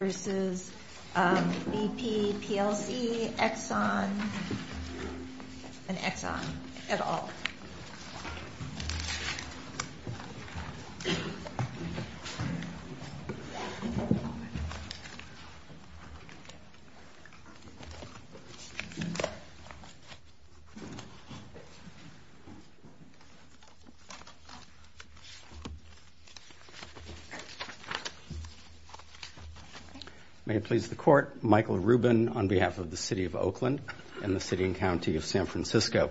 Exxon and Exxon et al. May it please the Court, Michael Rubin on behalf of the City of Oakland and the City and County of San Francisco.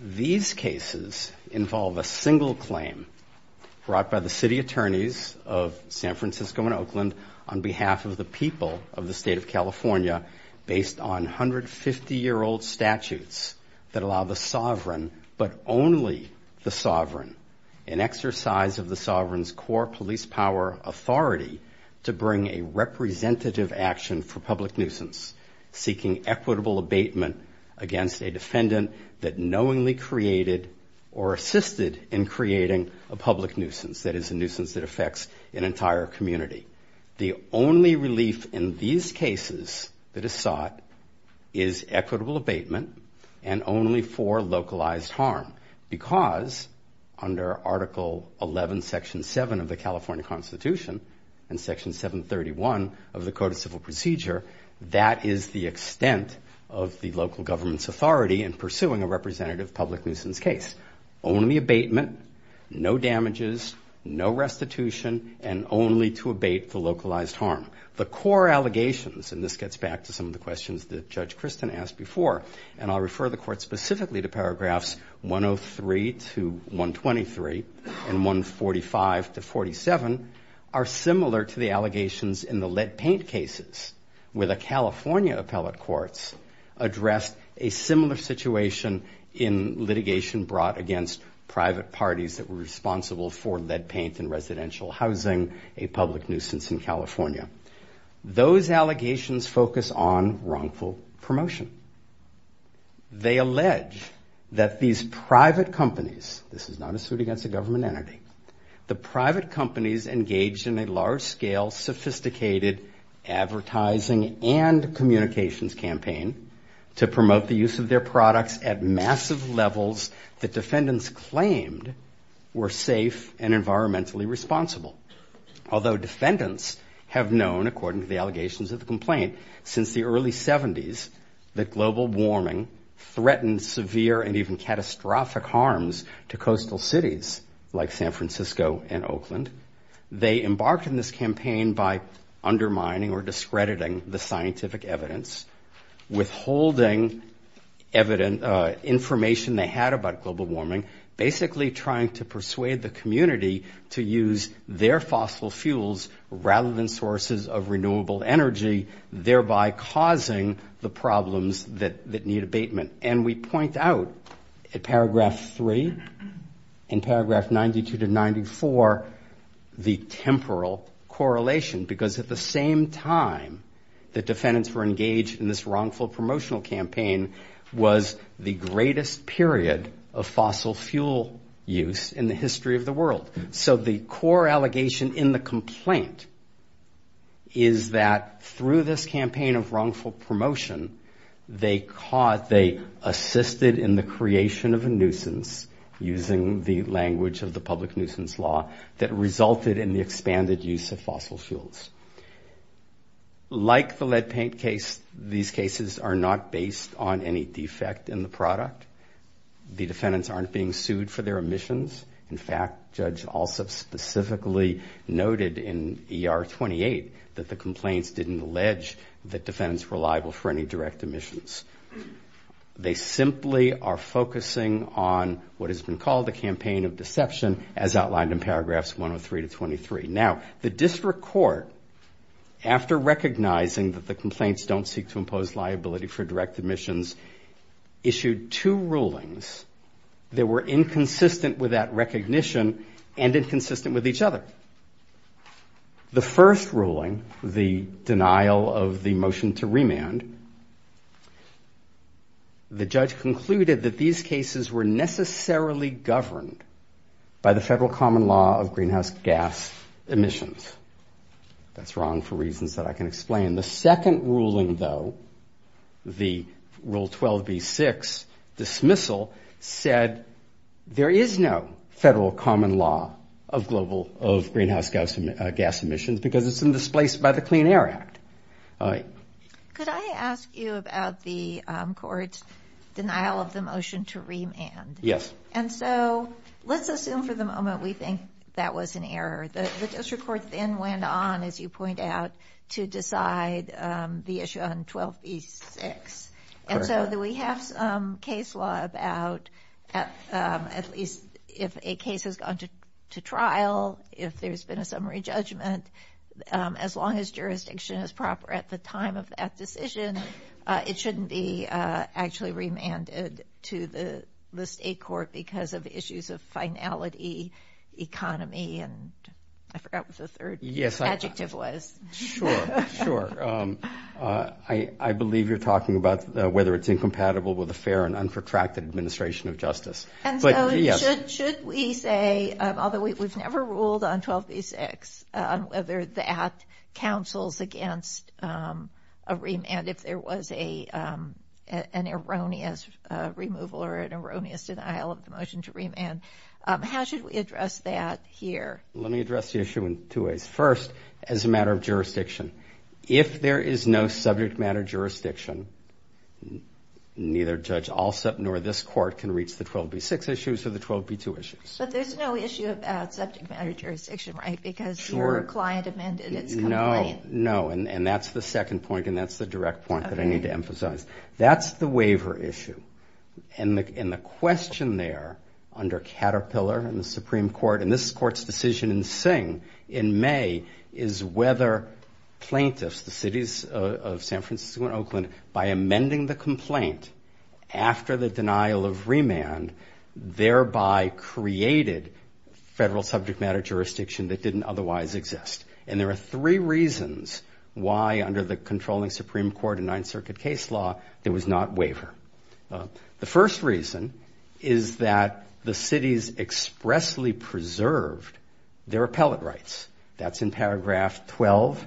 These cases involve a single claim brought by the city attorneys of San Francisco and Oakland on behalf of the people of the State of California based on 150-year-old statutes that allow the sovereign, but only the sovereign, an exercise of the sovereign's core police power authority to bring a representative action for public nuisance, seeking equitable abatement against a defendant that knowingly created or assisted in creating a public nuisance, that is, a nuisance that affects an entire community. The only relief in these cases that is sought is equitable abatement and only for localized harm because under Article 11, Section 7 of the California Constitution and Section 731 of the Code of Civil Procedure, that is the extent of the local government's authority in pursuing a representative public nuisance case. Only abatement, no damages, no restitution, and only to abate the localized harm. The core allegations, and this gets back to some of the questions that Judge Christin asked before, and I'll refer the Court specifically to paragraphs 103 to 123 and 145 to 47, are similar to the allegations in the lead paint cases where the California appellate courts addressed a similar situation in litigation brought against private parties that were responsible for lead paint in residential housing, a public nuisance in California. Those allegations focus on wrongful promotion. They allege that these private companies, this is not a suit against a government entity, the private companies engaged in a large-scale, sophisticated advertising and communications campaign to promote the use of their products at massive levels that defendants claimed were safe and environmentally responsible. Although defendants have known, according to the allegations of the complaint, since the early 70s that global warming threatened severe and even catastrophic harms to coastal cities like San Francisco and Oakland, they embarked on this campaign by undermining or discrediting the scientific evidence, withholding information they had about global warming, basically trying to persuade the community to use their fossil fuels rather than sources of renewable energy, thereby causing the problems that need abatement. And we point out in paragraph 3 and paragraph 92 to 94 the temporal correlation, because at the same time that defendants were engaged in this wrongful promotional campaign was the greatest period of fossil fuel use in the history of the world. So the core allegation in the complaint is that through this campaign of wrongful promotion, they assisted in the creation of a nuisance using the language of the public nuisance law that resulted in the expanded use of fossil fuels. Like the lead paint case, these cases are not based on any defect in the product. The defendants aren't being sued for their emissions. In fact, Judge Alsop specifically noted in ER 28 that the complaints didn't allege that defendants were liable for any direct emissions. They simply are focusing on what has been called a campaign of deception as outlined in paragraphs 103 to 23. Now, the district court, after recognizing that the complaints don't seek to impose liability for direct emissions, issued two rulings that were inconsistent with that recognition and inconsistent with each other. The first ruling, the denial of the motion to remand, the judge concluded that these cases were necessarily governed by the federal common law of greenhouse gas emissions. That's wrong for reasons that I can explain. The second ruling, though, the Rule 12b-6 dismissal, said there is no federal common law of greenhouse gas emissions because it's been displaced by the Clean Air Act. Hi. Could I ask you about the court's denial of the motion to remand? Yes. And so let's assume for the moment we think that was an error. The district court then went on, as you point out, to decide the issue on 12b-6. And so do we have some case law about at least if a case has gone to trial, if there's been a summary judgment, as long as jurisdiction is proper at the time of that decision, it shouldn't be actually remanded to the state court because of issues of finality, economy, and I forgot what the third adjective was. Sure. Sure. I believe you're talking about whether it's incompatible with a fair and unprotracted administration of justice. And so should we say, although we've never ruled on 12b-6, on whether that counsels against a remand if there was an erroneous removal or an erroneous denial of the motion to remand, how should we address that here? Let me address the issue in two ways. First, as a matter of jurisdiction, if there is no subject matter jurisdiction, neither Judge Alsup nor this court can reach the 12b-6 issues or the 12b-2 issues. But there's no issue about subject matter jurisdiction, right, because your client amended its complaint. No. And that's the second point, and that's the direct point that I need to emphasize. That's the waiver issue. And the question there under Caterpillar in the Supreme Court, and this Court's decision in Singh in May, is whether plaintiffs, the cities of San Francisco and Oakland, by amending the complaint after the denial of remand, thereby created federal subject matter jurisdiction that didn't otherwise exist. And there are three reasons why, under the controlling Supreme Court and Ninth Circuit case law, there was not waiver. The first reason is that the cities expressly preserved their appellate rights. That's in paragraph 12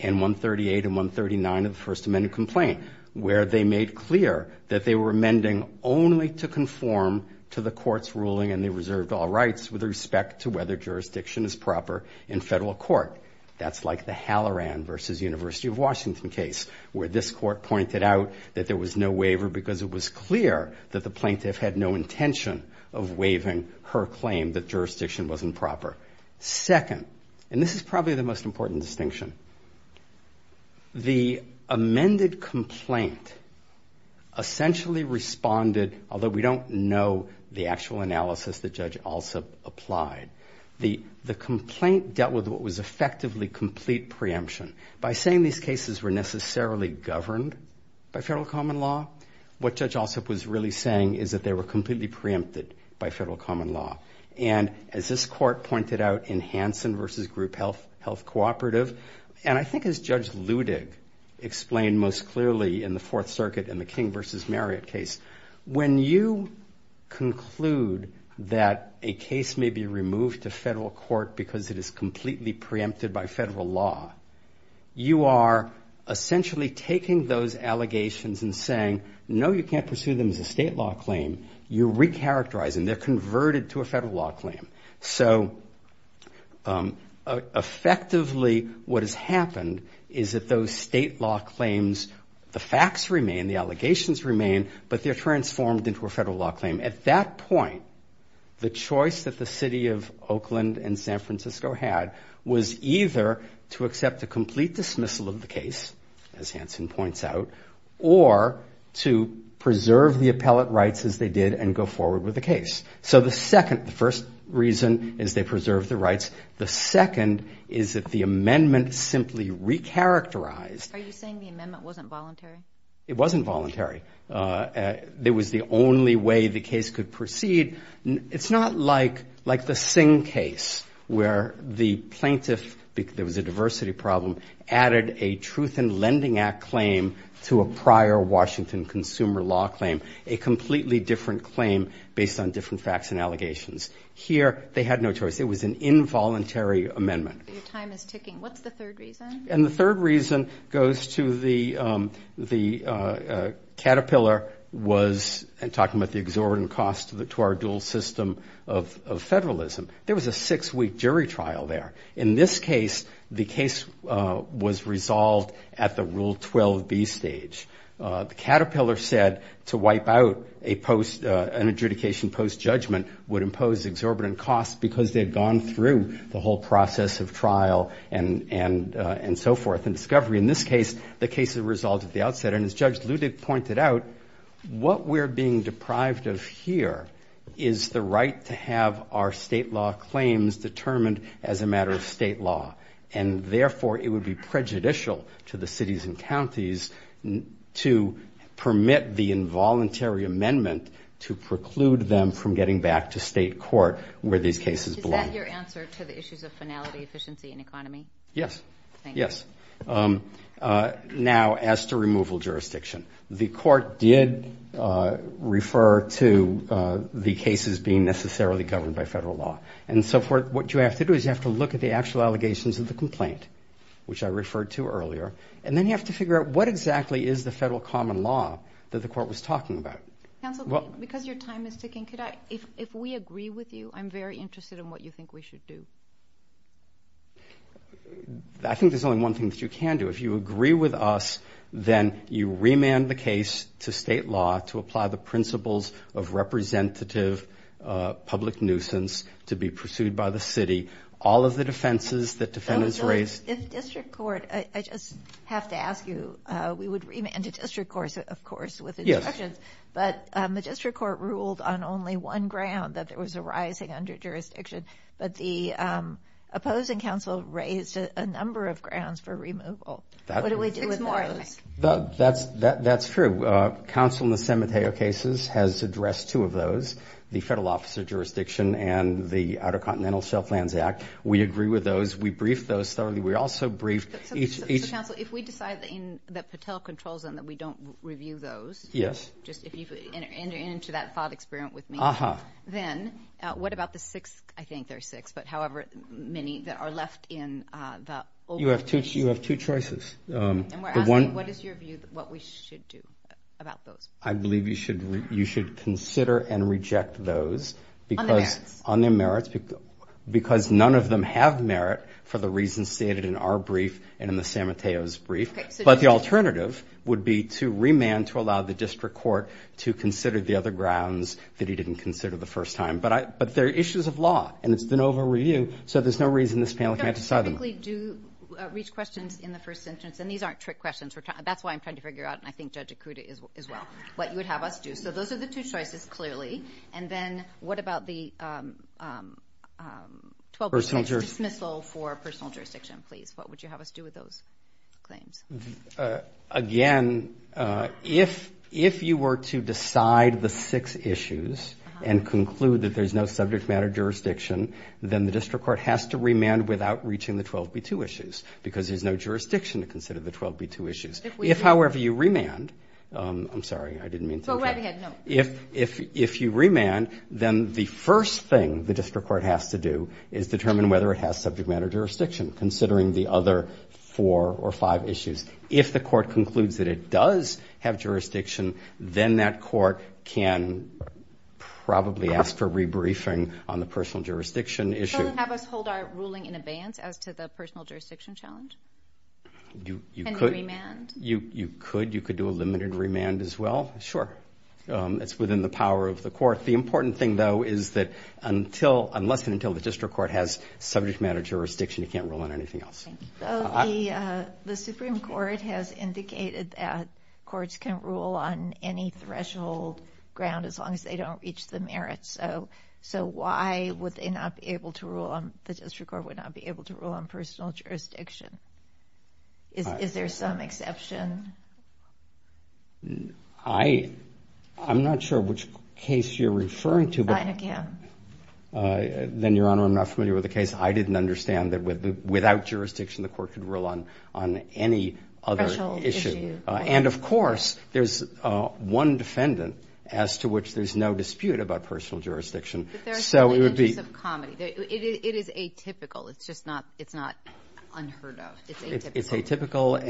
and 138 and 139 of the First Amendment complaint, where they made clear that they were amending only to conform to the Court's ruling, and they reserved all rights with respect to whether jurisdiction is proper in federal court. That's like the Halloran v. University of Washington case, where this Court pointed out that there was no waiver because it was clear that the plaintiff had no intention of waiving her claim that jurisdiction wasn't proper. Second, and this is probably the most important distinction, the amended complaint essentially responded, although we don't know the actual analysis that Judge Alsup applied, the complaint dealt with what was effectively complete preemption. By saying these cases were necessarily governed by federal common law, what Judge Alsup was really saying is that they were completely preempted by federal common law. And as this Court pointed out in Hansen v. Group Health Cooperative, and I think as Judge Ludig explained most clearly in the Fourth Circuit and the King v. Marriott case, when you conclude that a case may be removed to federal court because it is completely preempted by federal law, you are essentially taking those allegations and saying, no, you can't pursue them as a state law claim. You're recharacterizing, they're converted to a federal law claim. So effectively what has happened is that those state law claims, the facts remain, the allegations remain, but they're transformed into a federal law claim. At that point, the choice that the city of Oakland and San Francisco had was either to accept a complete dismissal of the case, as Hansen points out, or to preserve the appellate rights as they did and go forward with the case. So the second, the first reason is they preserved the rights. The second is that the amendment simply recharacterized. Are you saying the amendment wasn't voluntary? It wasn't voluntary. It was the only way the case could proceed. It's not like the Singh case where the plaintiff, there was a diversity problem, added a Truth in Lending Act claim to a prior Washington consumer law claim, a completely different claim based on different facts and allegations. Here, they had no choice. It was an involuntary amendment. Your time is ticking. What's the third reason? And the third reason goes to the Caterpillar was talking about the exorbitant cost to our dual system of federalism. There was a six-week jury trial there. In this case, the case was resolved at the Rule 12b stage. The Caterpillar said to wipe out an adjudication post-judgment would impose exorbitant costs because they had gone through the whole process of trial and so forth and discovery. In this case, the case was resolved at the outset, and as Judge Ludig pointed out, what we're being deprived of here is the right to have our state law claims determined as a matter of state law. And, therefore, it would be prejudicial to the cities and counties to permit the involuntary amendment to preclude them from getting back to state court where these cases belong. Is that your answer to the issues of finality, efficiency, and economy? Yes. Thank you. Yes. Now, as to removal jurisdiction, the court did refer to the cases being necessarily governed by federal law and so forth. What you have to do is you have to look at the actual allegations of the complaint, which I referred to earlier, and then you have to figure out what exactly is the federal common law that the court was talking about. Counsel, because your time is ticking, if we agree with you, I'm very interested in what you think we should do. I think there's only one thing that you can do. If you agree with us, then you remand the case to state law to apply the principles of representative public nuisance to be pursued by the city, all of the defenses that defendants raised. If district court, I just have to ask you, we would remand to district courts, of course, with instructions, but the district court ruled on only one ground, that there was a rising under-jurisdiction, but the opposing counsel raised a number of grounds for removal. What do we do with those? That's true. Counsel in the San Mateo cases has addressed two of those, the federal officer jurisdiction and the Outer Continental Shelf Lands Act. We agree with those. We briefed those thoroughly. We also briefed each- Counsel, if we decide that Patel controls them, that we don't review those- Yes. If you enter into that thought experiment with me, then what about the six, I think there are six, but however many that are left in the- You have two choices. We're asking what is your view, what we should do about those. I believe you should consider and reject those because- On their merits. Because none of them have merit for the reasons stated in our brief and in the San Mateo's brief, but the alternative would be to remand to allow the district court to consider the other grounds that he didn't consider the first time. But they're issues of law, and it's an over-review, so there's no reason this panel can't decide on them. We typically do reach questions in the first sentence, and these aren't trick questions. That's why I'm trying to figure out, and I think Judge Ikuda as well, what you would have us do. So those are the two choices, clearly. And then what about the 12B6 dismissal for personal jurisdiction, please? What would you have us do with those claims? Again, if you were to decide the six issues and conclude that there's no subject matter jurisdiction, then the district court has to remand without reaching the 12B2 issues because there's no jurisdiction to consider the 12B2 issues. If, however, you remand, I'm sorry, I didn't mean to- Go right ahead, no. If you remand, then the first thing the district court has to do is determine whether it has subject matter jurisdiction, considering the other four or five issues. If the court concludes that it does have jurisdiction, then that court can probably ask for a rebriefing on the personal jurisdiction issue. So have us hold our ruling in abeyance as to the personal jurisdiction challenge? You could. And the remand? You could. You could do a limited remand as well. Sure. It's within the power of the court. The important thing, though, is that unless and until the district court has subject matter jurisdiction, it can't rule on anything else. The Supreme Court has indicated that courts can rule on any threshold ground as long as they don't reach the merits. So why would the district court not be able to rule on personal jurisdiction? Is there some exception? I'm not sure which case you're referring to. I can. Then, Your Honor, I'm not familiar with the case. I didn't understand that without jurisdiction the court could rule on any other issue. Threshold issue. And, of course, there's one defendant as to which there's no dispute about personal jurisdiction. But there are certainly interests of comedy. It is atypical. It's just not unheard of. It's atypical. It's atypical,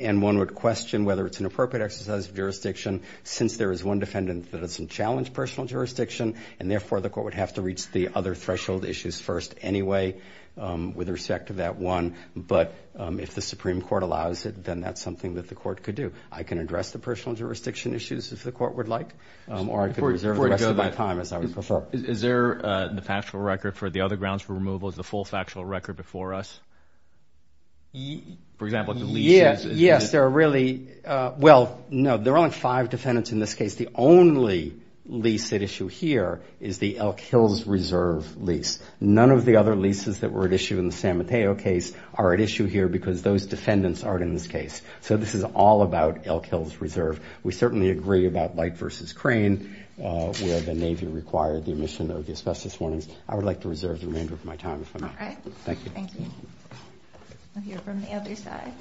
and one would question whether it's an appropriate exercise of jurisdiction since there is one defendant that doesn't challenge personal jurisdiction, and therefore the court would have to reach the other threshold issues first anyway with respect to that one. But if the Supreme Court allows it, then that's something that the court could do. I can address the personal jurisdiction issues if the court would like, or I could reserve the rest of my time as I would prefer. Is there the factual record for the other grounds for removal? Is the full factual record before us? For example, the leases. Yes, there are really. Well, no, there are only five defendants in this case. The only lease at issue here is the Elk Hills Reserve lease. None of the other leases that were at issue in the San Mateo case are at issue here because those defendants aren't in this case. So this is all about Elk Hills Reserve. We certainly agree about Light v. Crane where the Navy required the omission of the asbestos warnings. I would like to reserve the remainder of my time if I may. All right. Thank you. Thank you. We'll hear from the other side.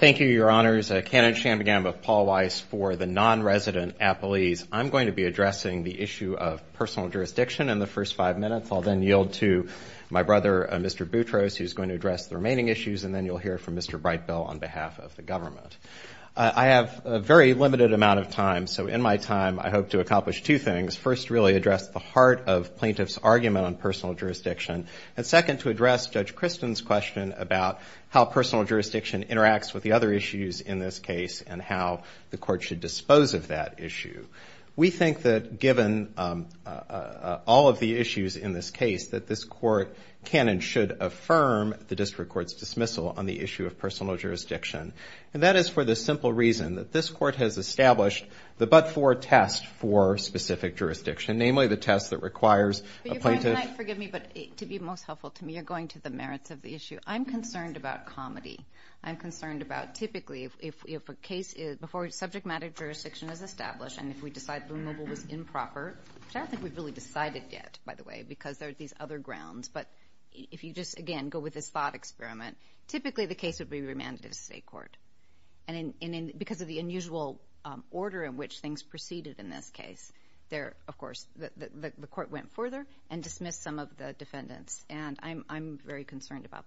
Thank you, Your Honors. Kenneth Chambogam of Paul Weiss for the non-resident at Belize. I'm going to be addressing the issue of personal jurisdiction in the first five minutes. I'll then yield to my brother, Mr. Boutros, who's going to address the remaining issues, and then you'll hear from Mr. Brightbill on behalf of the government. I have a very limited amount of time, so in my time I hope to accomplish two things. First, really address the heart of plaintiff's argument on personal jurisdiction. And second, to address Judge Christen's question about how personal jurisdiction interacts with the other issues in this case and how the court should dispose of that issue. We think that given all of the issues in this case that this court can and should affirm the district court's dismissal on the issue of personal jurisdiction. And that is for the simple reason that this court has established the but-for test for specific jurisdiction, namely the test that requires a plaintiff. Can I, forgive me, but to be most helpful to me, you're going to the merits of the issue. I'm concerned about comedy. I'm concerned about typically if a case is, before subject matter jurisdiction is established and if we decide Blue Mobile was improper, which I don't think we've really decided yet, by the way, because there are these other grounds, but if you just, again, go with this thought experiment, typically the case would be remanded to the state court. And because of the unusual order in which things proceeded in this case, there, of course, the court went further and dismissed some of the defendants. And I'm very concerned about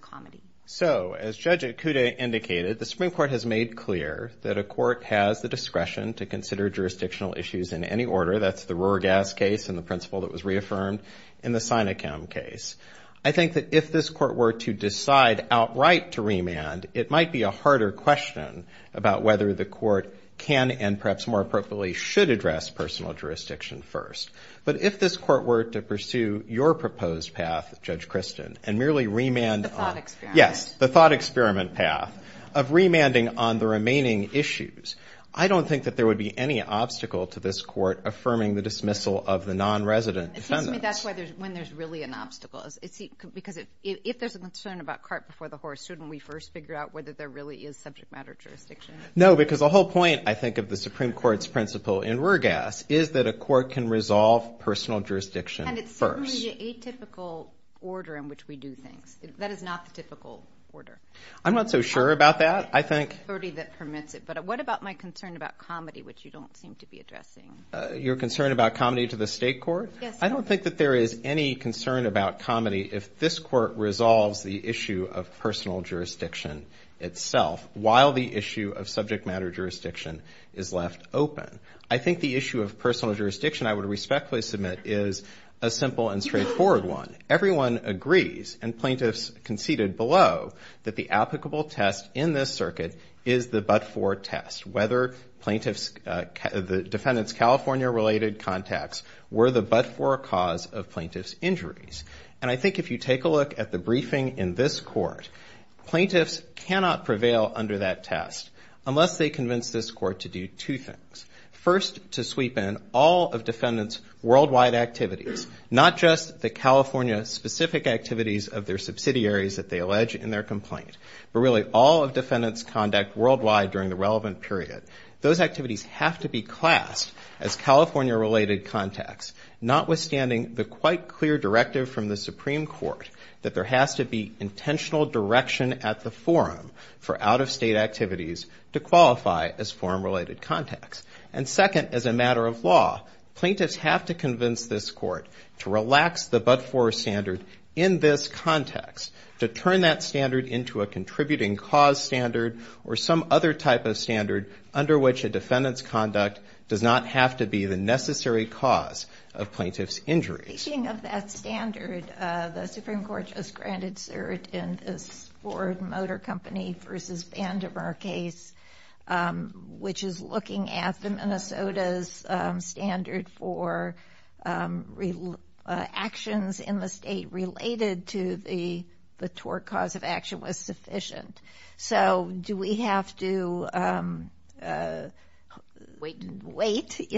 comedy. So, as Judge Ikuda indicated, the Supreme Court has made clear that a court has the discretion to consider jurisdictional issues in any order. That's the Rohrgass case and the principle that was reaffirmed in the Sinachem case. I think that if this court were to decide outright to remand, it might be a harder question about whether the court can and perhaps more appropriately should address personal jurisdiction first. But if this court were to pursue your proposed path, Judge Christin, and merely remand on the thought experiment path of remanding on the remaining issues, I don't think that there would be any obstacle to this court affirming the dismissal of the nonresident defendants. It seems to me that's when there's really an obstacle. Because if there's a concern about cart before the horse, shouldn't we first figure out whether there really is subject matter jurisdiction? No, because the whole point, I think, of the Supreme Court's principle in Rohrgass is that a court can resolve personal jurisdiction first. And it's certainly the atypical order in which we do things. That is not the typical order. I'm not so sure about that, I think. It's the authority that permits it. But what about my concern about comedy, which you don't seem to be addressing? Your concern about comedy to the state court? Yes. I don't think that there is any concern about comedy if this court resolves the issue of personal jurisdiction itself while the issue of subject matter jurisdiction is left open. I think the issue of personal jurisdiction, I would respectfully submit, is a simple and straightforward one. Everyone agrees, and plaintiffs conceded below, that the applicable test in this circuit is the but-for test, whether the defendant's California-related contacts were the but-for cause of plaintiff's injuries. And I think if you take a look at the briefing in this court, plaintiffs cannot prevail under that test unless they convince this court to do two things. First, to sweep in all of defendant's worldwide activities, not just the California-specific activities of their subsidiaries that they allege in their complaint, but really all of defendant's conduct worldwide during the relevant period. Those activities have to be classed as California-related contacts, notwithstanding the quite clear directive from the Supreme Court that there has to be intentional direction at the forum for out-of-state activities to qualify as forum-related contacts. And second, as a matter of law, plaintiffs have to convince this court to relax the but-for standard in this context to turn that standard into a contributing cause standard or some other type of standard under which a defendant's conduct does not have to be the necessary cause of plaintiff's injuries. Speaking of that standard, the Supreme Court just granted cert in this Ford Motor Company v. Vandiver case, which is looking at the Minnesota's standard for actions in the state related to the tort cause of action was sufficient. So do we have to wait,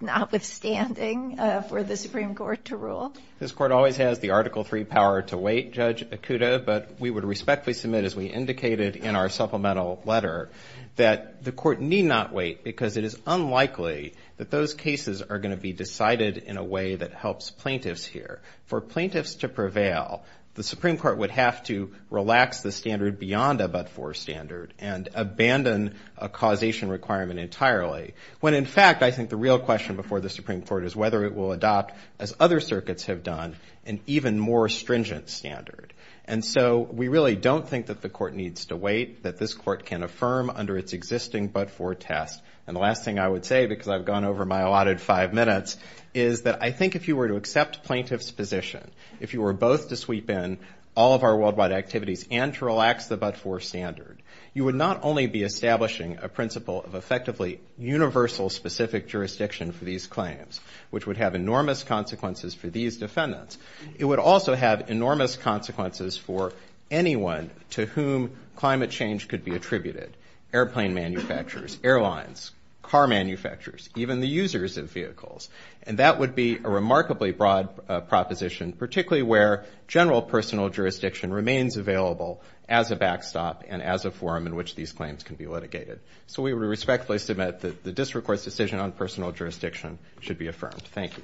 notwithstanding, for the Supreme Court to rule? This court always has the Article III power to wait, Judge Okuda, but we would respectfully submit, as we indicated in our supplemental letter, that the court need not wait because it is unlikely that those cases are going to be decided in a way that helps plaintiffs here. For plaintiffs to prevail, the Supreme Court would have to relax the standard beyond a but-for standard and abandon a causation requirement entirely, when in fact I think the real question before the Supreme Court is whether it will adopt, as other circuits have done, an even more stringent standard. And so we really don't think that the court needs to wait, that this court can affirm under its existing but-for test. And the last thing I would say, because I've gone over my allotted five minutes, is that I think if you were to accept plaintiff's position, if you were both to sweep in all of our worldwide activities and to relax the but-for standard, you would not only be establishing a principle of effectively universal specific jurisdiction for these claims, which would have enormous consequences for these defendants, it would also have enormous consequences for anyone to whom climate change could be attributed, airplane manufacturers, airlines, car manufacturers, even the users of vehicles. And that would be a remarkably broad proposition, particularly where general personal jurisdiction remains available as a backstop and as a forum in which these claims can be litigated. So we respectfully submit that the district court's decision on personal jurisdiction should be affirmed. Thank you.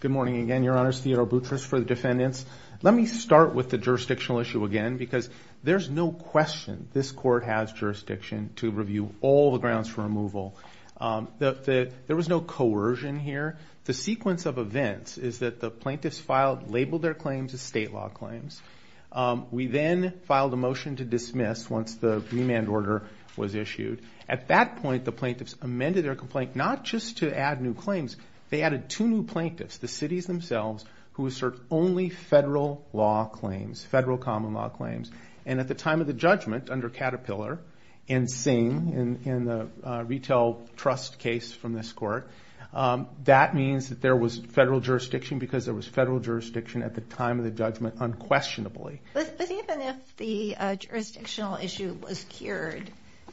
Good morning again, Your Honors. Theodore Boutrous for the defendants. Let me start with the jurisdictional issue again, because there's no question this court has jurisdiction to review all the grounds for removal. There was no coercion here. The sequence of events is that the plaintiffs filed, labeled their claims as state law claims. We then filed a motion to dismiss once the remand order was issued. At that point, the plaintiffs amended their complaint not just to add new claims. They added two new plaintiffs, the cities themselves, who assert only federal law claims, federal common law claims. And at the time of the judgment under Caterpillar and Singh in the retail trust case from this court, that means that there was federal jurisdiction because there was federal jurisdiction at the time of the judgment unquestionably. But even if the jurisdictional issue was cured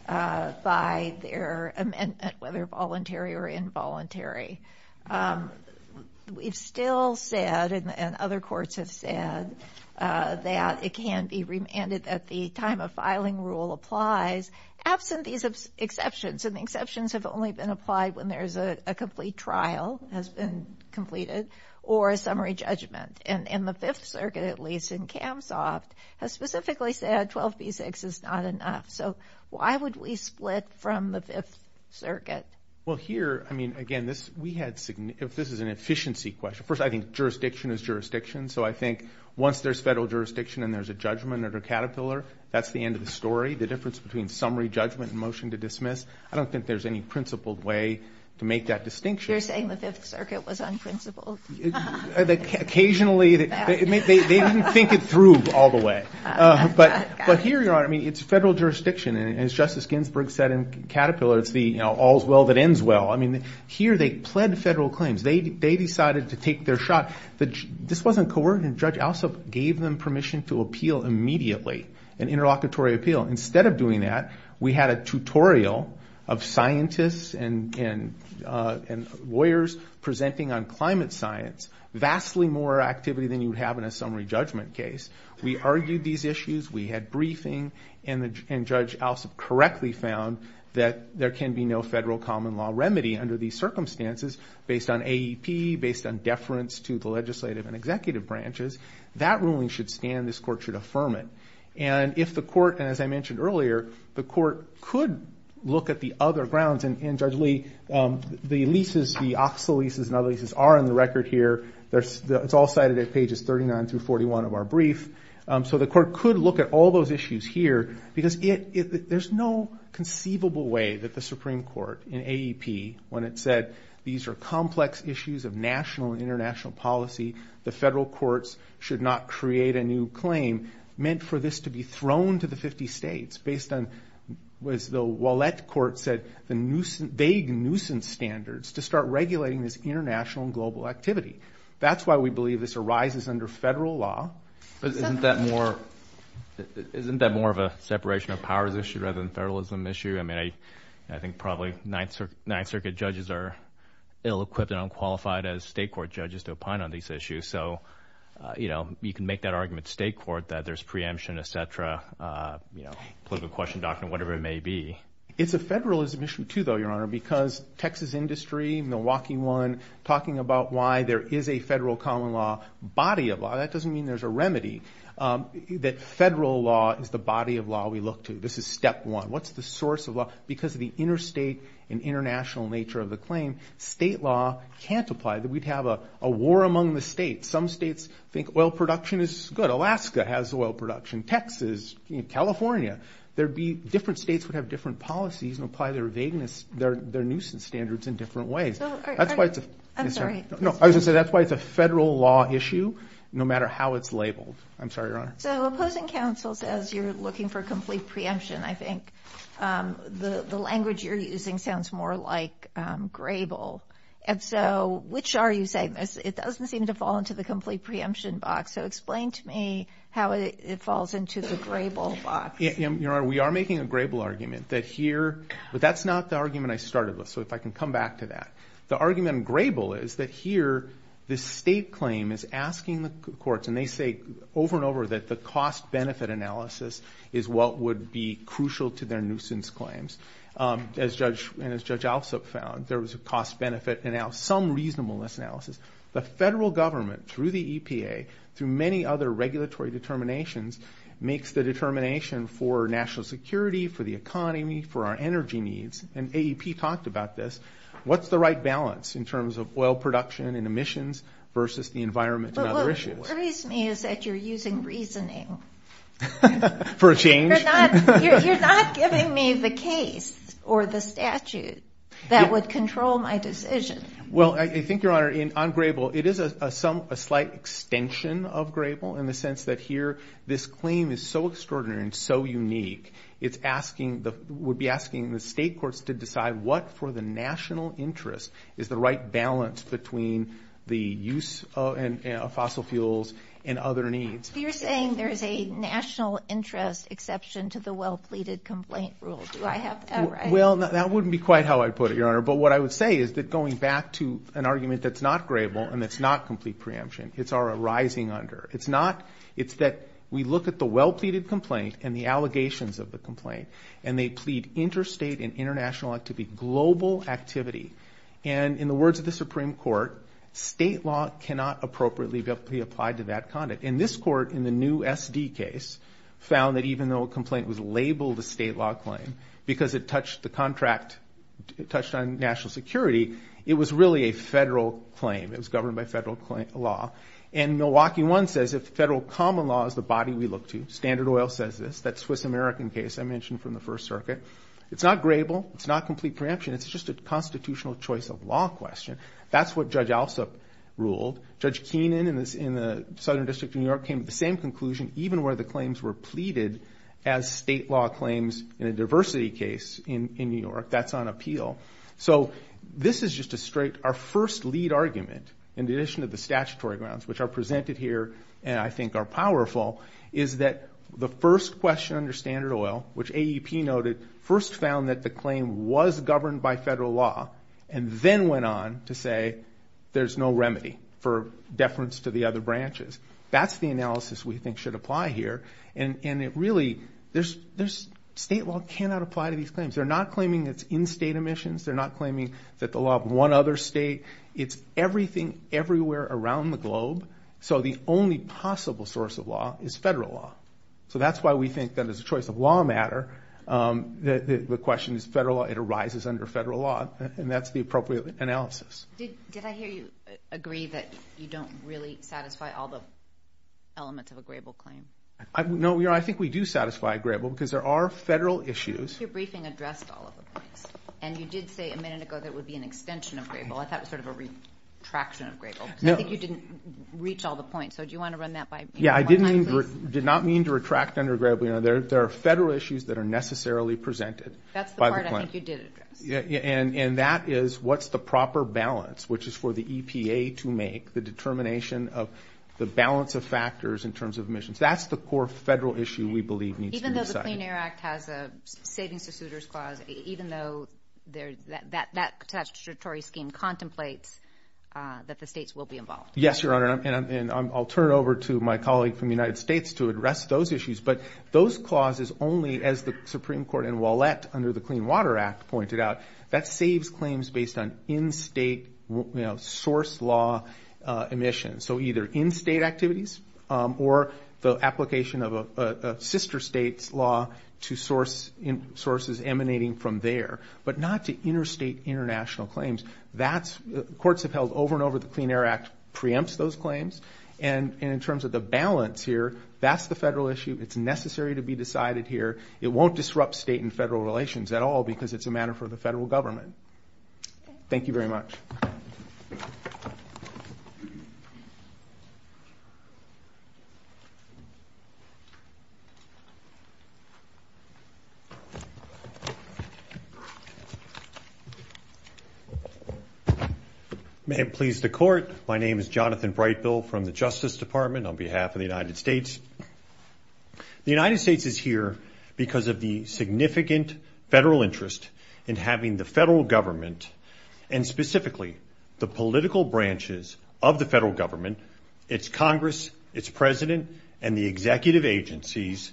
by their amendment, whether voluntary or involuntary, we've still said, and other courts have said, that it can be remanded at the time a filing rule applies absent these exceptions. And the exceptions have only been applied when there's a complete trial has been completed or a summary judgment. And the Fifth Circuit, at least in Kamsoft, has specifically said 12B6 is not enough. So why would we split from the Fifth Circuit? Well, here, I mean, again, this is an efficiency question. First, I think jurisdiction is jurisdiction. So I think once there's federal jurisdiction and there's a judgment under Caterpillar, that's the end of the story. The difference between summary judgment and motion to dismiss, I don't think there's any principled way to make that distinction. You're saying the Fifth Circuit was unprincipled? Occasionally. They didn't think it through all the way. But here, Your Honor, I mean, it's federal jurisdiction. And as Justice Ginsburg said in Caterpillar, it's the all's well that ends well. I mean, here they pled federal claims. They decided to take their shot. This wasn't coercive. Judge Alsop gave them permission to appeal immediately, an interlocutory appeal. Instead of doing that, we had a tutorial of scientists and lawyers presenting on climate science, vastly more activity than you would have in a summary judgment case. We argued these issues. We had briefing. And Judge Alsop correctly found that there can be no federal common law remedy under these circumstances based on AEP, based on deference to the legislative and executive branches. That ruling should stand. This court should affirm it. And if the court, and as I mentioned earlier, the court could look at the other grounds. And Judge Lee, the leases, the OXA leases and other leases are on the record here. It's all cited at pages 39 through 41 of our brief. So the court could look at all those issues here because there's no conceivable way that the Supreme Court in AEP, when it said these are complex issues of national and international policy, the federal courts should not create a new claim, meant for this to be thrown to the 50 states based on, as the Ouellette Court said, the vague nuisance standards to start regulating this international and global activity. That's why we believe this arises under federal law. But isn't that more of a separation of powers issue rather than a federalism issue? I mean, I think probably Ninth Circuit judges are ill-equipped and unqualified as state court judges to opine on these issues. So, you know, you can make that argument to state court that there's preemption, et cetera, you know, political question document, whatever it may be. It's a federalism issue too, though, Your Honor, because Texas industry, Milwaukee one, talking about why there is a federal common law body of law, that doesn't mean there's a remedy. That federal law is the body of law we look to. This is step one. What's the source of law? Because of the interstate and international nature of the claim, state law can't apply. We'd have a war among the states. Some states think oil production is good. Alaska has oil production. Texas, California. Different states would have different policies and apply their nuisance standards in different ways. That's why it's a federal law issue, no matter how it's labeled. I'm sorry, Your Honor. So opposing counsels, as you're looking for complete preemption, I think the language you're using sounds more like grable. And so which are you saying? It doesn't seem to fall into the complete preemption box. So explain to me how it falls into the grable box. Your Honor, we are making a grable argument that here, but that's not the argument I started with, so if I can come back to that. The argument in grable is that here, the state claim is asking the courts, and they say over and over that the cost-benefit analysis is what would be crucial to their nuisance claims. And as Judge Alsop found, there was a cost-benefit analysis, some reasonableness analysis. The federal government, through the EPA, through many other regulatory determinations, makes the determination for national security, for the economy, for our energy needs. And AEP talked about this. What's the right balance in terms of oil production and emissions versus the environment and other issues? What worries me is that you're using reasoning. For a change? You're not giving me the case or the statute that would control my decision. Well, I think, Your Honor, on grable, it is a slight extension of grable in the sense that here, this claim is so extraordinary and so unique, it's asking, would be asking the state courts to decide what, for the national interest, is the right balance between the use of fossil fuels and other needs. You're saying there's a national interest exception to the well-pleaded complaint rule. Do I have that right? Well, that wouldn't be quite how I'd put it, Your Honor. But what I would say is that going back to an argument that's not grable and that's not complete preemption, it's our arising under. It's not, it's that we look at the well-pleaded complaint and the allegations of the complaint, and they plead interstate and international activity, global activity. And in the words of the Supreme Court, state law cannot appropriately be applied to that conduct. And this court, in the new SD case, found that even though a complaint was labeled a state law claim because it touched the contract, it touched on national security, it was really a federal claim. It was governed by federal law. And Milwaukee 1 says if federal common law is the body we look to, Standard Oil says this, that Swiss-American case I mentioned from the First Circuit, it's not grable, it's not complete preemption, it's just a constitutional choice of law question. That's what Judge Alsup ruled. Judge Keenan in the Southern District of New York came to the same conclusion, even where the claims were pleaded as state law claims in a diversity case in New York. That's on appeal. So this is just a straight, our first lead argument, in addition to the statutory grounds, which are presented here and I think are powerful, is that the first question under Standard Oil, which AEP noted, first found that the claim was governed by federal law, and then went on to say there's no remedy for deference to the other branches. That's the analysis we think should apply here. And it really, state law cannot apply to these claims. They're not claiming it's in-state emissions. They're not claiming that the law of one other state. It's everything everywhere around the globe. So the only possible source of law is federal law. So that's why we think that as a choice of law matter, the question is federal law, it arises under federal law, and that's the appropriate analysis. Did I hear you agree that you don't really satisfy all the elements of a Grable claim? No, I think we do satisfy a Grable because there are federal issues. Your briefing addressed all of those. And you did say a minute ago that it would be an extension of Grable. I thought it was sort of a retraction of Grable. I think you didn't reach all the points. So do you want to run that by one time, please? Yeah, I did not mean to retract under Grable. There are federal issues that are necessarily presented by the claim. That's the part I think you did address. And that is what's the proper balance, which is for the EPA to make the determination of the balance of factors in terms of emissions. That's the core federal issue we believe needs to be decided. Even though the Clean Air Act has a savings-to-suitors clause, even though that statutory scheme contemplates that the states will be involved. Yes, Your Honor, and I'll turn it over to my colleague from the United States to address those issues. But those clauses only, as the Supreme Court and Wallet under the Clean Water Act pointed out, that saves claims based on in-state source law emissions. So either in-state activities or the application of a sister state's law to sources emanating from there, but not to interstate international claims. Courts have held over and over the Clean Air Act preempts those claims. And in terms of the balance here, that's the federal issue. It's necessary to be decided here. It won't disrupt state and federal relations at all because it's a matter for the federal government. Thank you very much. May it please the Court. My name is Jonathan Brightbill from the Justice Department on behalf of the United States. The United States is here because of the significant federal interest in having the federal government and specifically the political branches of the federal government, its Congress, its President, and the executive agencies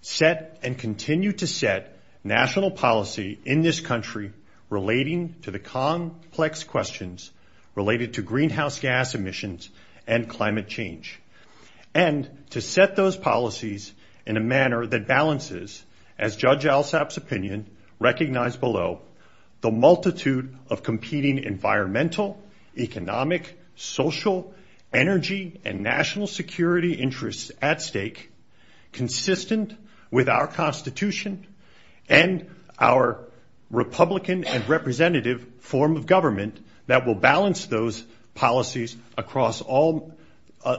set and continue to set national policy in this country relating to the complex questions related to greenhouse gas emissions and climate change. And to set those policies in a manner that balances, as Judge Alsop's opinion recognized below, the multitude of competing environmental, economic, social, energy, and national security interests at stake consistent with our Constitution and our Republican and representative form of government that will balance those policies across all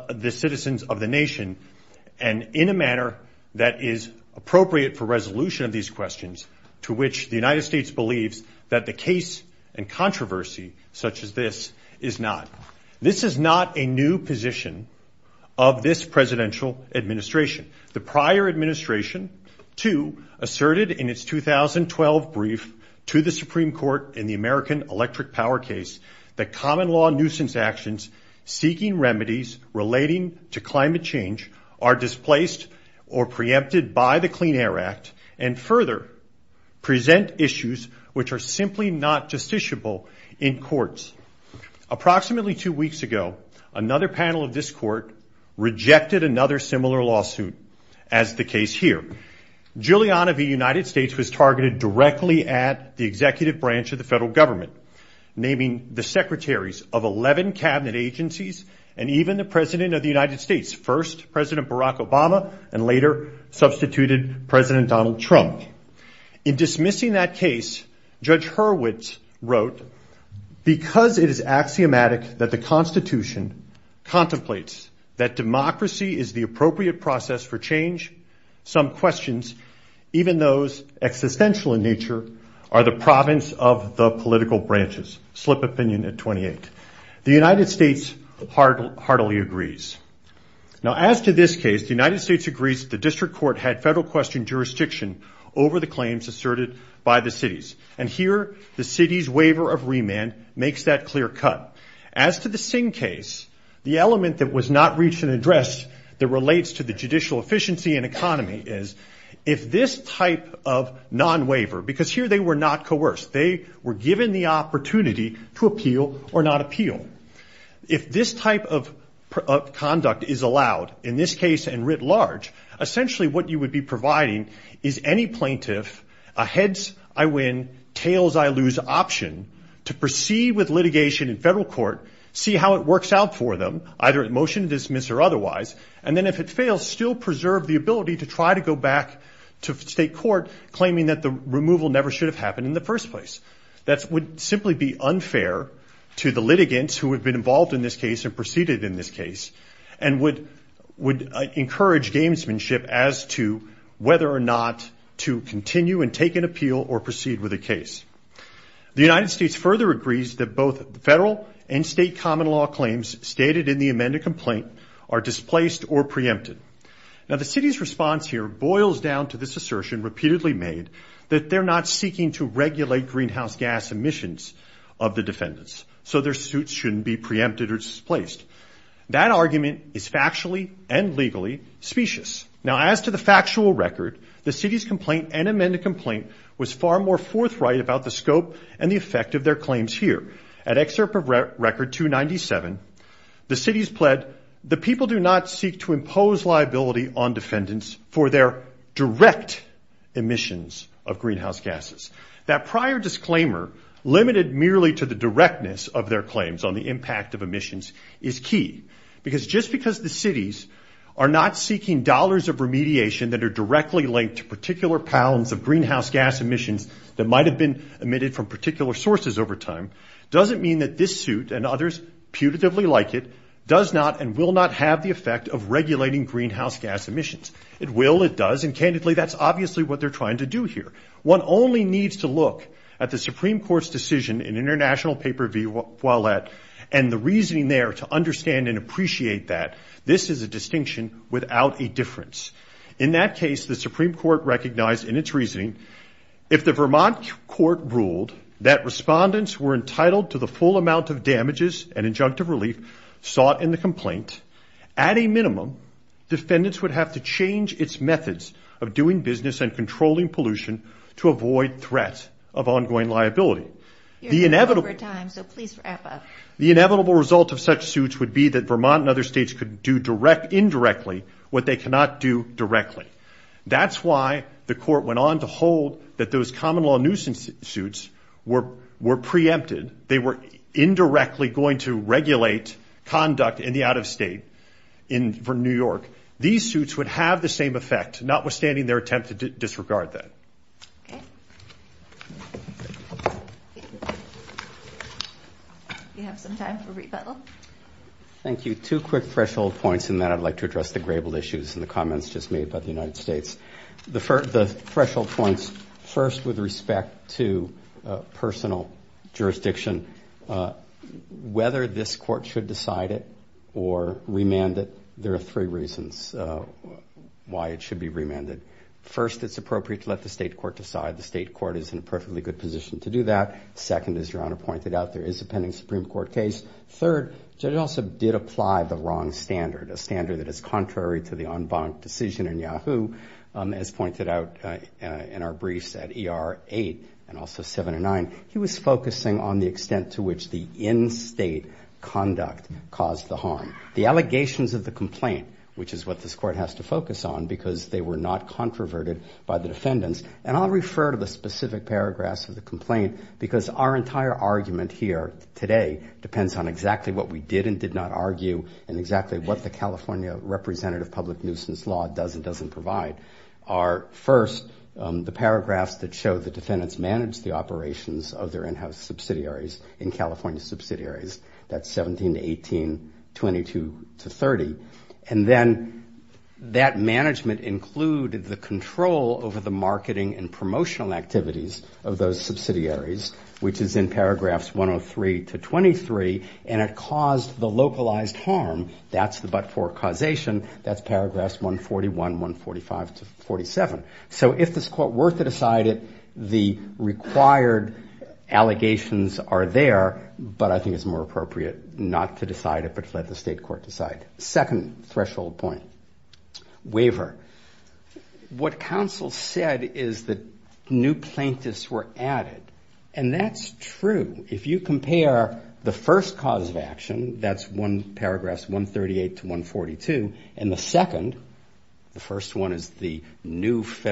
the citizens of the nation and in a manner that is appropriate for resolution of these questions to which the United States believes that the case and controversy such as this is not. This is not a new position of this presidential administration. The prior administration, too, asserted in its 2012 brief to the Supreme Court in the American Electric Power case that common law nuisance actions seeking remedies relating to climate change are displaced or preempted by the Clean Air Act and further present issues which are simply not justiciable in courts. Approximately two weeks ago, another panel of this court rejected another similar lawsuit as the case here. Giuliana v. United States was targeted directly at the executive branch of the federal government, naming the secretaries of 11 Cabinet agencies and even the President of the United States, first President Barack Obama and later substituted President Donald Trump. In dismissing that case, Judge Hurwitz wrote, because it is axiomatic that the Constitution contemplates that democracy is the appropriate process for change, some questions, even those existential in nature, are the province of the political branches. Slip of opinion at 28. The United States heartily agrees. Now, as to this case, the United States agrees that the district court had federal question jurisdiction over the claims asserted by the cities. And here, the city's waiver of remand makes that clear cut. As to the Singh case, the element that was not reached in address that relates to the judicial efficiency and economy is, if this type of non-waiver, because here they were not coerced, they were given the opportunity to appeal or not appeal. If this type of conduct is allowed, in this case and writ large, essentially what you would be providing is any plaintiff, a heads-I-win, tails-I-lose option, to proceed with litigation in federal court, see how it works out for them, either at motion to dismiss or otherwise, and then if it fails, still preserve the ability to try to go back to state court, claiming that the removal never should have happened in the first place. That would simply be unfair to the litigants who have been involved in this case and proceeded in this case, and would encourage gamesmanship as to whether or not to continue and take an appeal or proceed with a case. The United States further agrees that both federal and state common law claims stated in the amended complaint are displaced or preempted. Now the city's response here boils down to this assertion repeatedly made that they're not seeking to regulate greenhouse gas emissions of the defendants, so their suits shouldn't be preempted or displaced. That argument is factually and legally specious. Now, as to the factual record, the city's complaint and amended complaint was far more forthright about the scope and the effect of their claims here. At Excerpt of Record 297, the city's pled, the people do not seek to impose liability on defendants for their direct emissions of greenhouse gases. That prior disclaimer, limited merely to the directness of their claims on the impact of emissions, is key, because just because the cities are not seeking dollars of remediation that are directly linked to particular pounds of greenhouse gas emissions that might have been emitted from particular sources over time, doesn't mean that this suit, and others putatively like it, does not and will not have the effect of regulating greenhouse gas emissions. It will, it does, and candidly, that's obviously what they're trying to do here. One only needs to look at the Supreme Court's decision in International Paper v. Ouellette, and the reasoning there to understand and appreciate that. This is a distinction without a difference. In that case, the Supreme Court recognized in its reasoning if the Vermont court ruled that respondents were entitled to the full amount of damages and injunctive relief sought in the complaint, at a minimum, defendants would have to change its methods of doing business and controlling pollution to avoid threat of ongoing liability. You're running out of time, so please wrap up. The inevitable result of such suits would be that Vermont and other states could do indirectly what they cannot do directly. That's why the court went on to hold that those common law nuisance suits were preempted. They were indirectly going to regulate conduct in the out-of-state for New York. These suits would have the same effect, notwithstanding their attempt to disregard that. Okay. You have some time for rebuttal. Thank you. Two quick threshold points, and then I'd like to address the grable issues and the comments just made by the United States. The threshold points, first, with respect to personal jurisdiction. Whether this court should decide it or remand it, there are three reasons why it should be remanded. First, it's appropriate to let the state know when the state court decides. The state court is in a perfectly good position to do that. Second, as Your Honor pointed out, there is a pending Supreme Court case. Third, the judge also did apply the wrong standard, a standard that is contrary to the en banc decision in Yahoo. As pointed out in our briefs at ER 8 and also 7 and 9, he was focusing on the extent to which the in-state conduct caused the harm. The allegations of the complaint, which is what this court has to focus on because they were not controverted by the defendants. And I'll refer to the specific paragraphs of the complaint because our entire argument here today depends on exactly what we did and did not argue and exactly what the California representative public nuisance law does and doesn't provide. First, the paragraphs that show the defendants managed the operations of their in-house subsidiaries in California subsidiaries. That's 17 to 18, 22 to 30. And then that management included the control over the marketing and promotional activities of those subsidiaries, which is in paragraphs 103 to 23 and it caused the localized harm. That's the but-for causation. That's paragraphs 141, 145 to 47. So if this court were to decide it, the required allegations are there, but I think it's more appropriate not to decide it but to let the state court decide. Second threshold point, waiver. What counsel said is that new plaintiffs were added. And that's true. If you compare the first cause of action, that's one paragraph, 138 to 142, and the second, the first one is the new and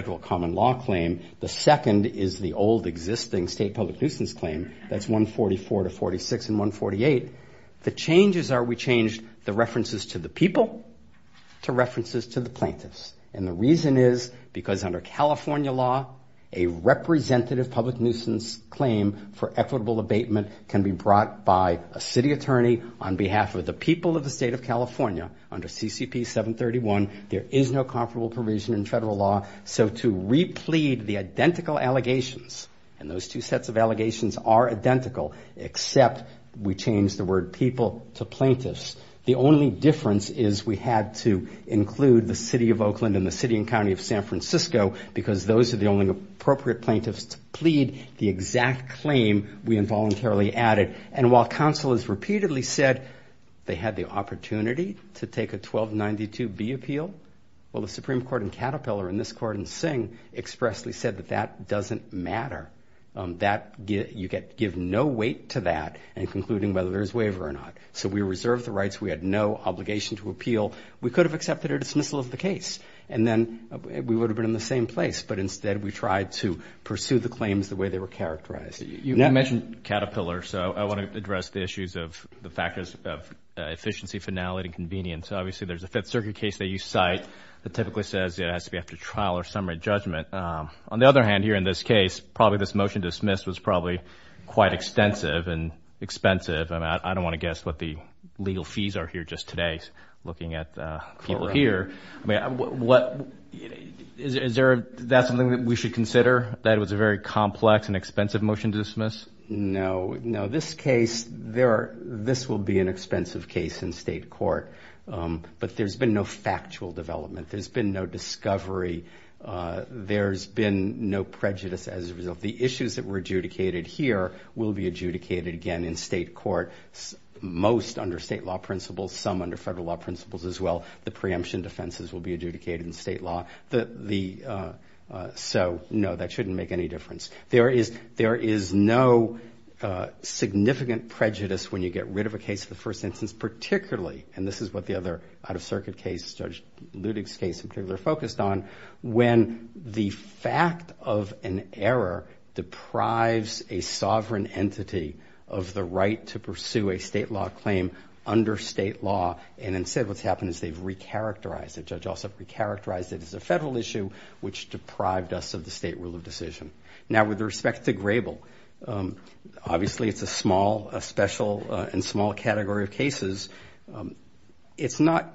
the old existing state public nuisance claim, that's 144 to 46 and 148, the changes are we changed the references to the people to references to the plaintiffs. And the reason is because under California law, a representative public nuisance claim for equitable abatement can be brought by a city attorney on behalf of the people of the state of California. Under CCP 731, there is no comparable provision in federal law. So to replete the identical allegations, and those two sets of allegations are identical, except we changed the word people to plaintiffs. The only difference is we had to include the city of Oakland and the city and county of San Francisco because those are the only appropriate plaintiffs to plead the exact claim we involuntarily added. And while counsel has repeatedly said they had the opportunity to take a 1292B appeal, well, the Supreme Court in Caterpillar and this court in Singh expressly said that that doesn't matter. You get to give no weight to that in concluding whether there's waiver or not. So we reserved the rights, we had no obligation to appeal. We could have accepted a dismissal of the case and then we would have been in the same place, but instead we tried to pursue the claims the way they were characterized. You mentioned Caterpillar, so I want to address the issues of the factors of efficiency, finality, convenience. Obviously there's a Fifth Circuit case that you cite that typically says it has to be after trial or summary judgment. On the other hand here in this case, probably this motion to dismiss was probably quite extensive and expensive. I don't want to guess what the legal fees are here just today looking at the people here. Is that something that we should consider, that it was a very complex and expensive motion to dismiss? No. This will be an expensive case in state court, but there's been no factual development. There's been no discovery. There's been no prejudice as a result. The issues that were adjudicated here will be adjudicated again in state court, most under state law principles, some under federal law principles as well. The preemption defenses will be adjudicated in state law. No, that shouldn't make any difference. There is no significant prejudice when you get rid of a case in the first instance, particularly, and this is what the other out-of-circuit cases, Judge Ludig's case in particular, focused on, when the fact of an error deprives a sovereign entity of the right to pursue a state law claim under state law. Instead what's happened is they've recharacterized it. The judge also recharacterized it as a federal issue, which deprived us of the state rule of decision. Now, with respect to Grable, obviously it's a small, special and small category of cases. It's not...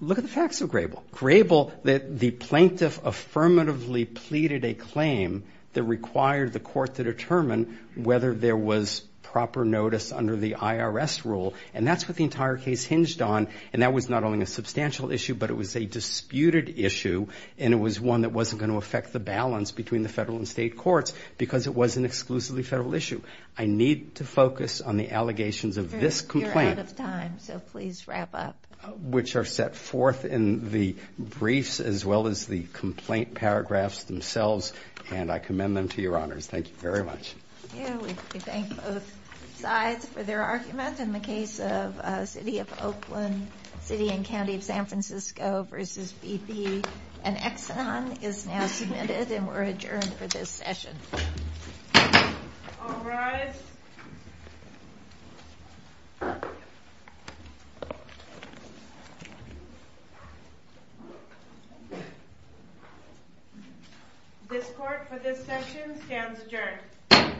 Look at the facts of Grable. Grable, the plaintiff affirmatively pleaded a claim that required the court to determine whether there was proper notice under the IRS rule, and that's what the entire case hinged on, and that was not only a substantial issue, but it was a disputed issue, and it was one that wasn't going to affect the balance between the federal and state courts because it was an exclusively federal issue. I need to focus on the allegations of this complaint, which are set forth in the briefs as well as the complaint paragraphs themselves, and I commend them to your honors. Thank you very much. We thank both sides for their argument in the case of City of Oakland, City and County of San Francisco v. BP. An exon is now submitted and we're adjourned for this session. All rise. This court for this session stands adjourned.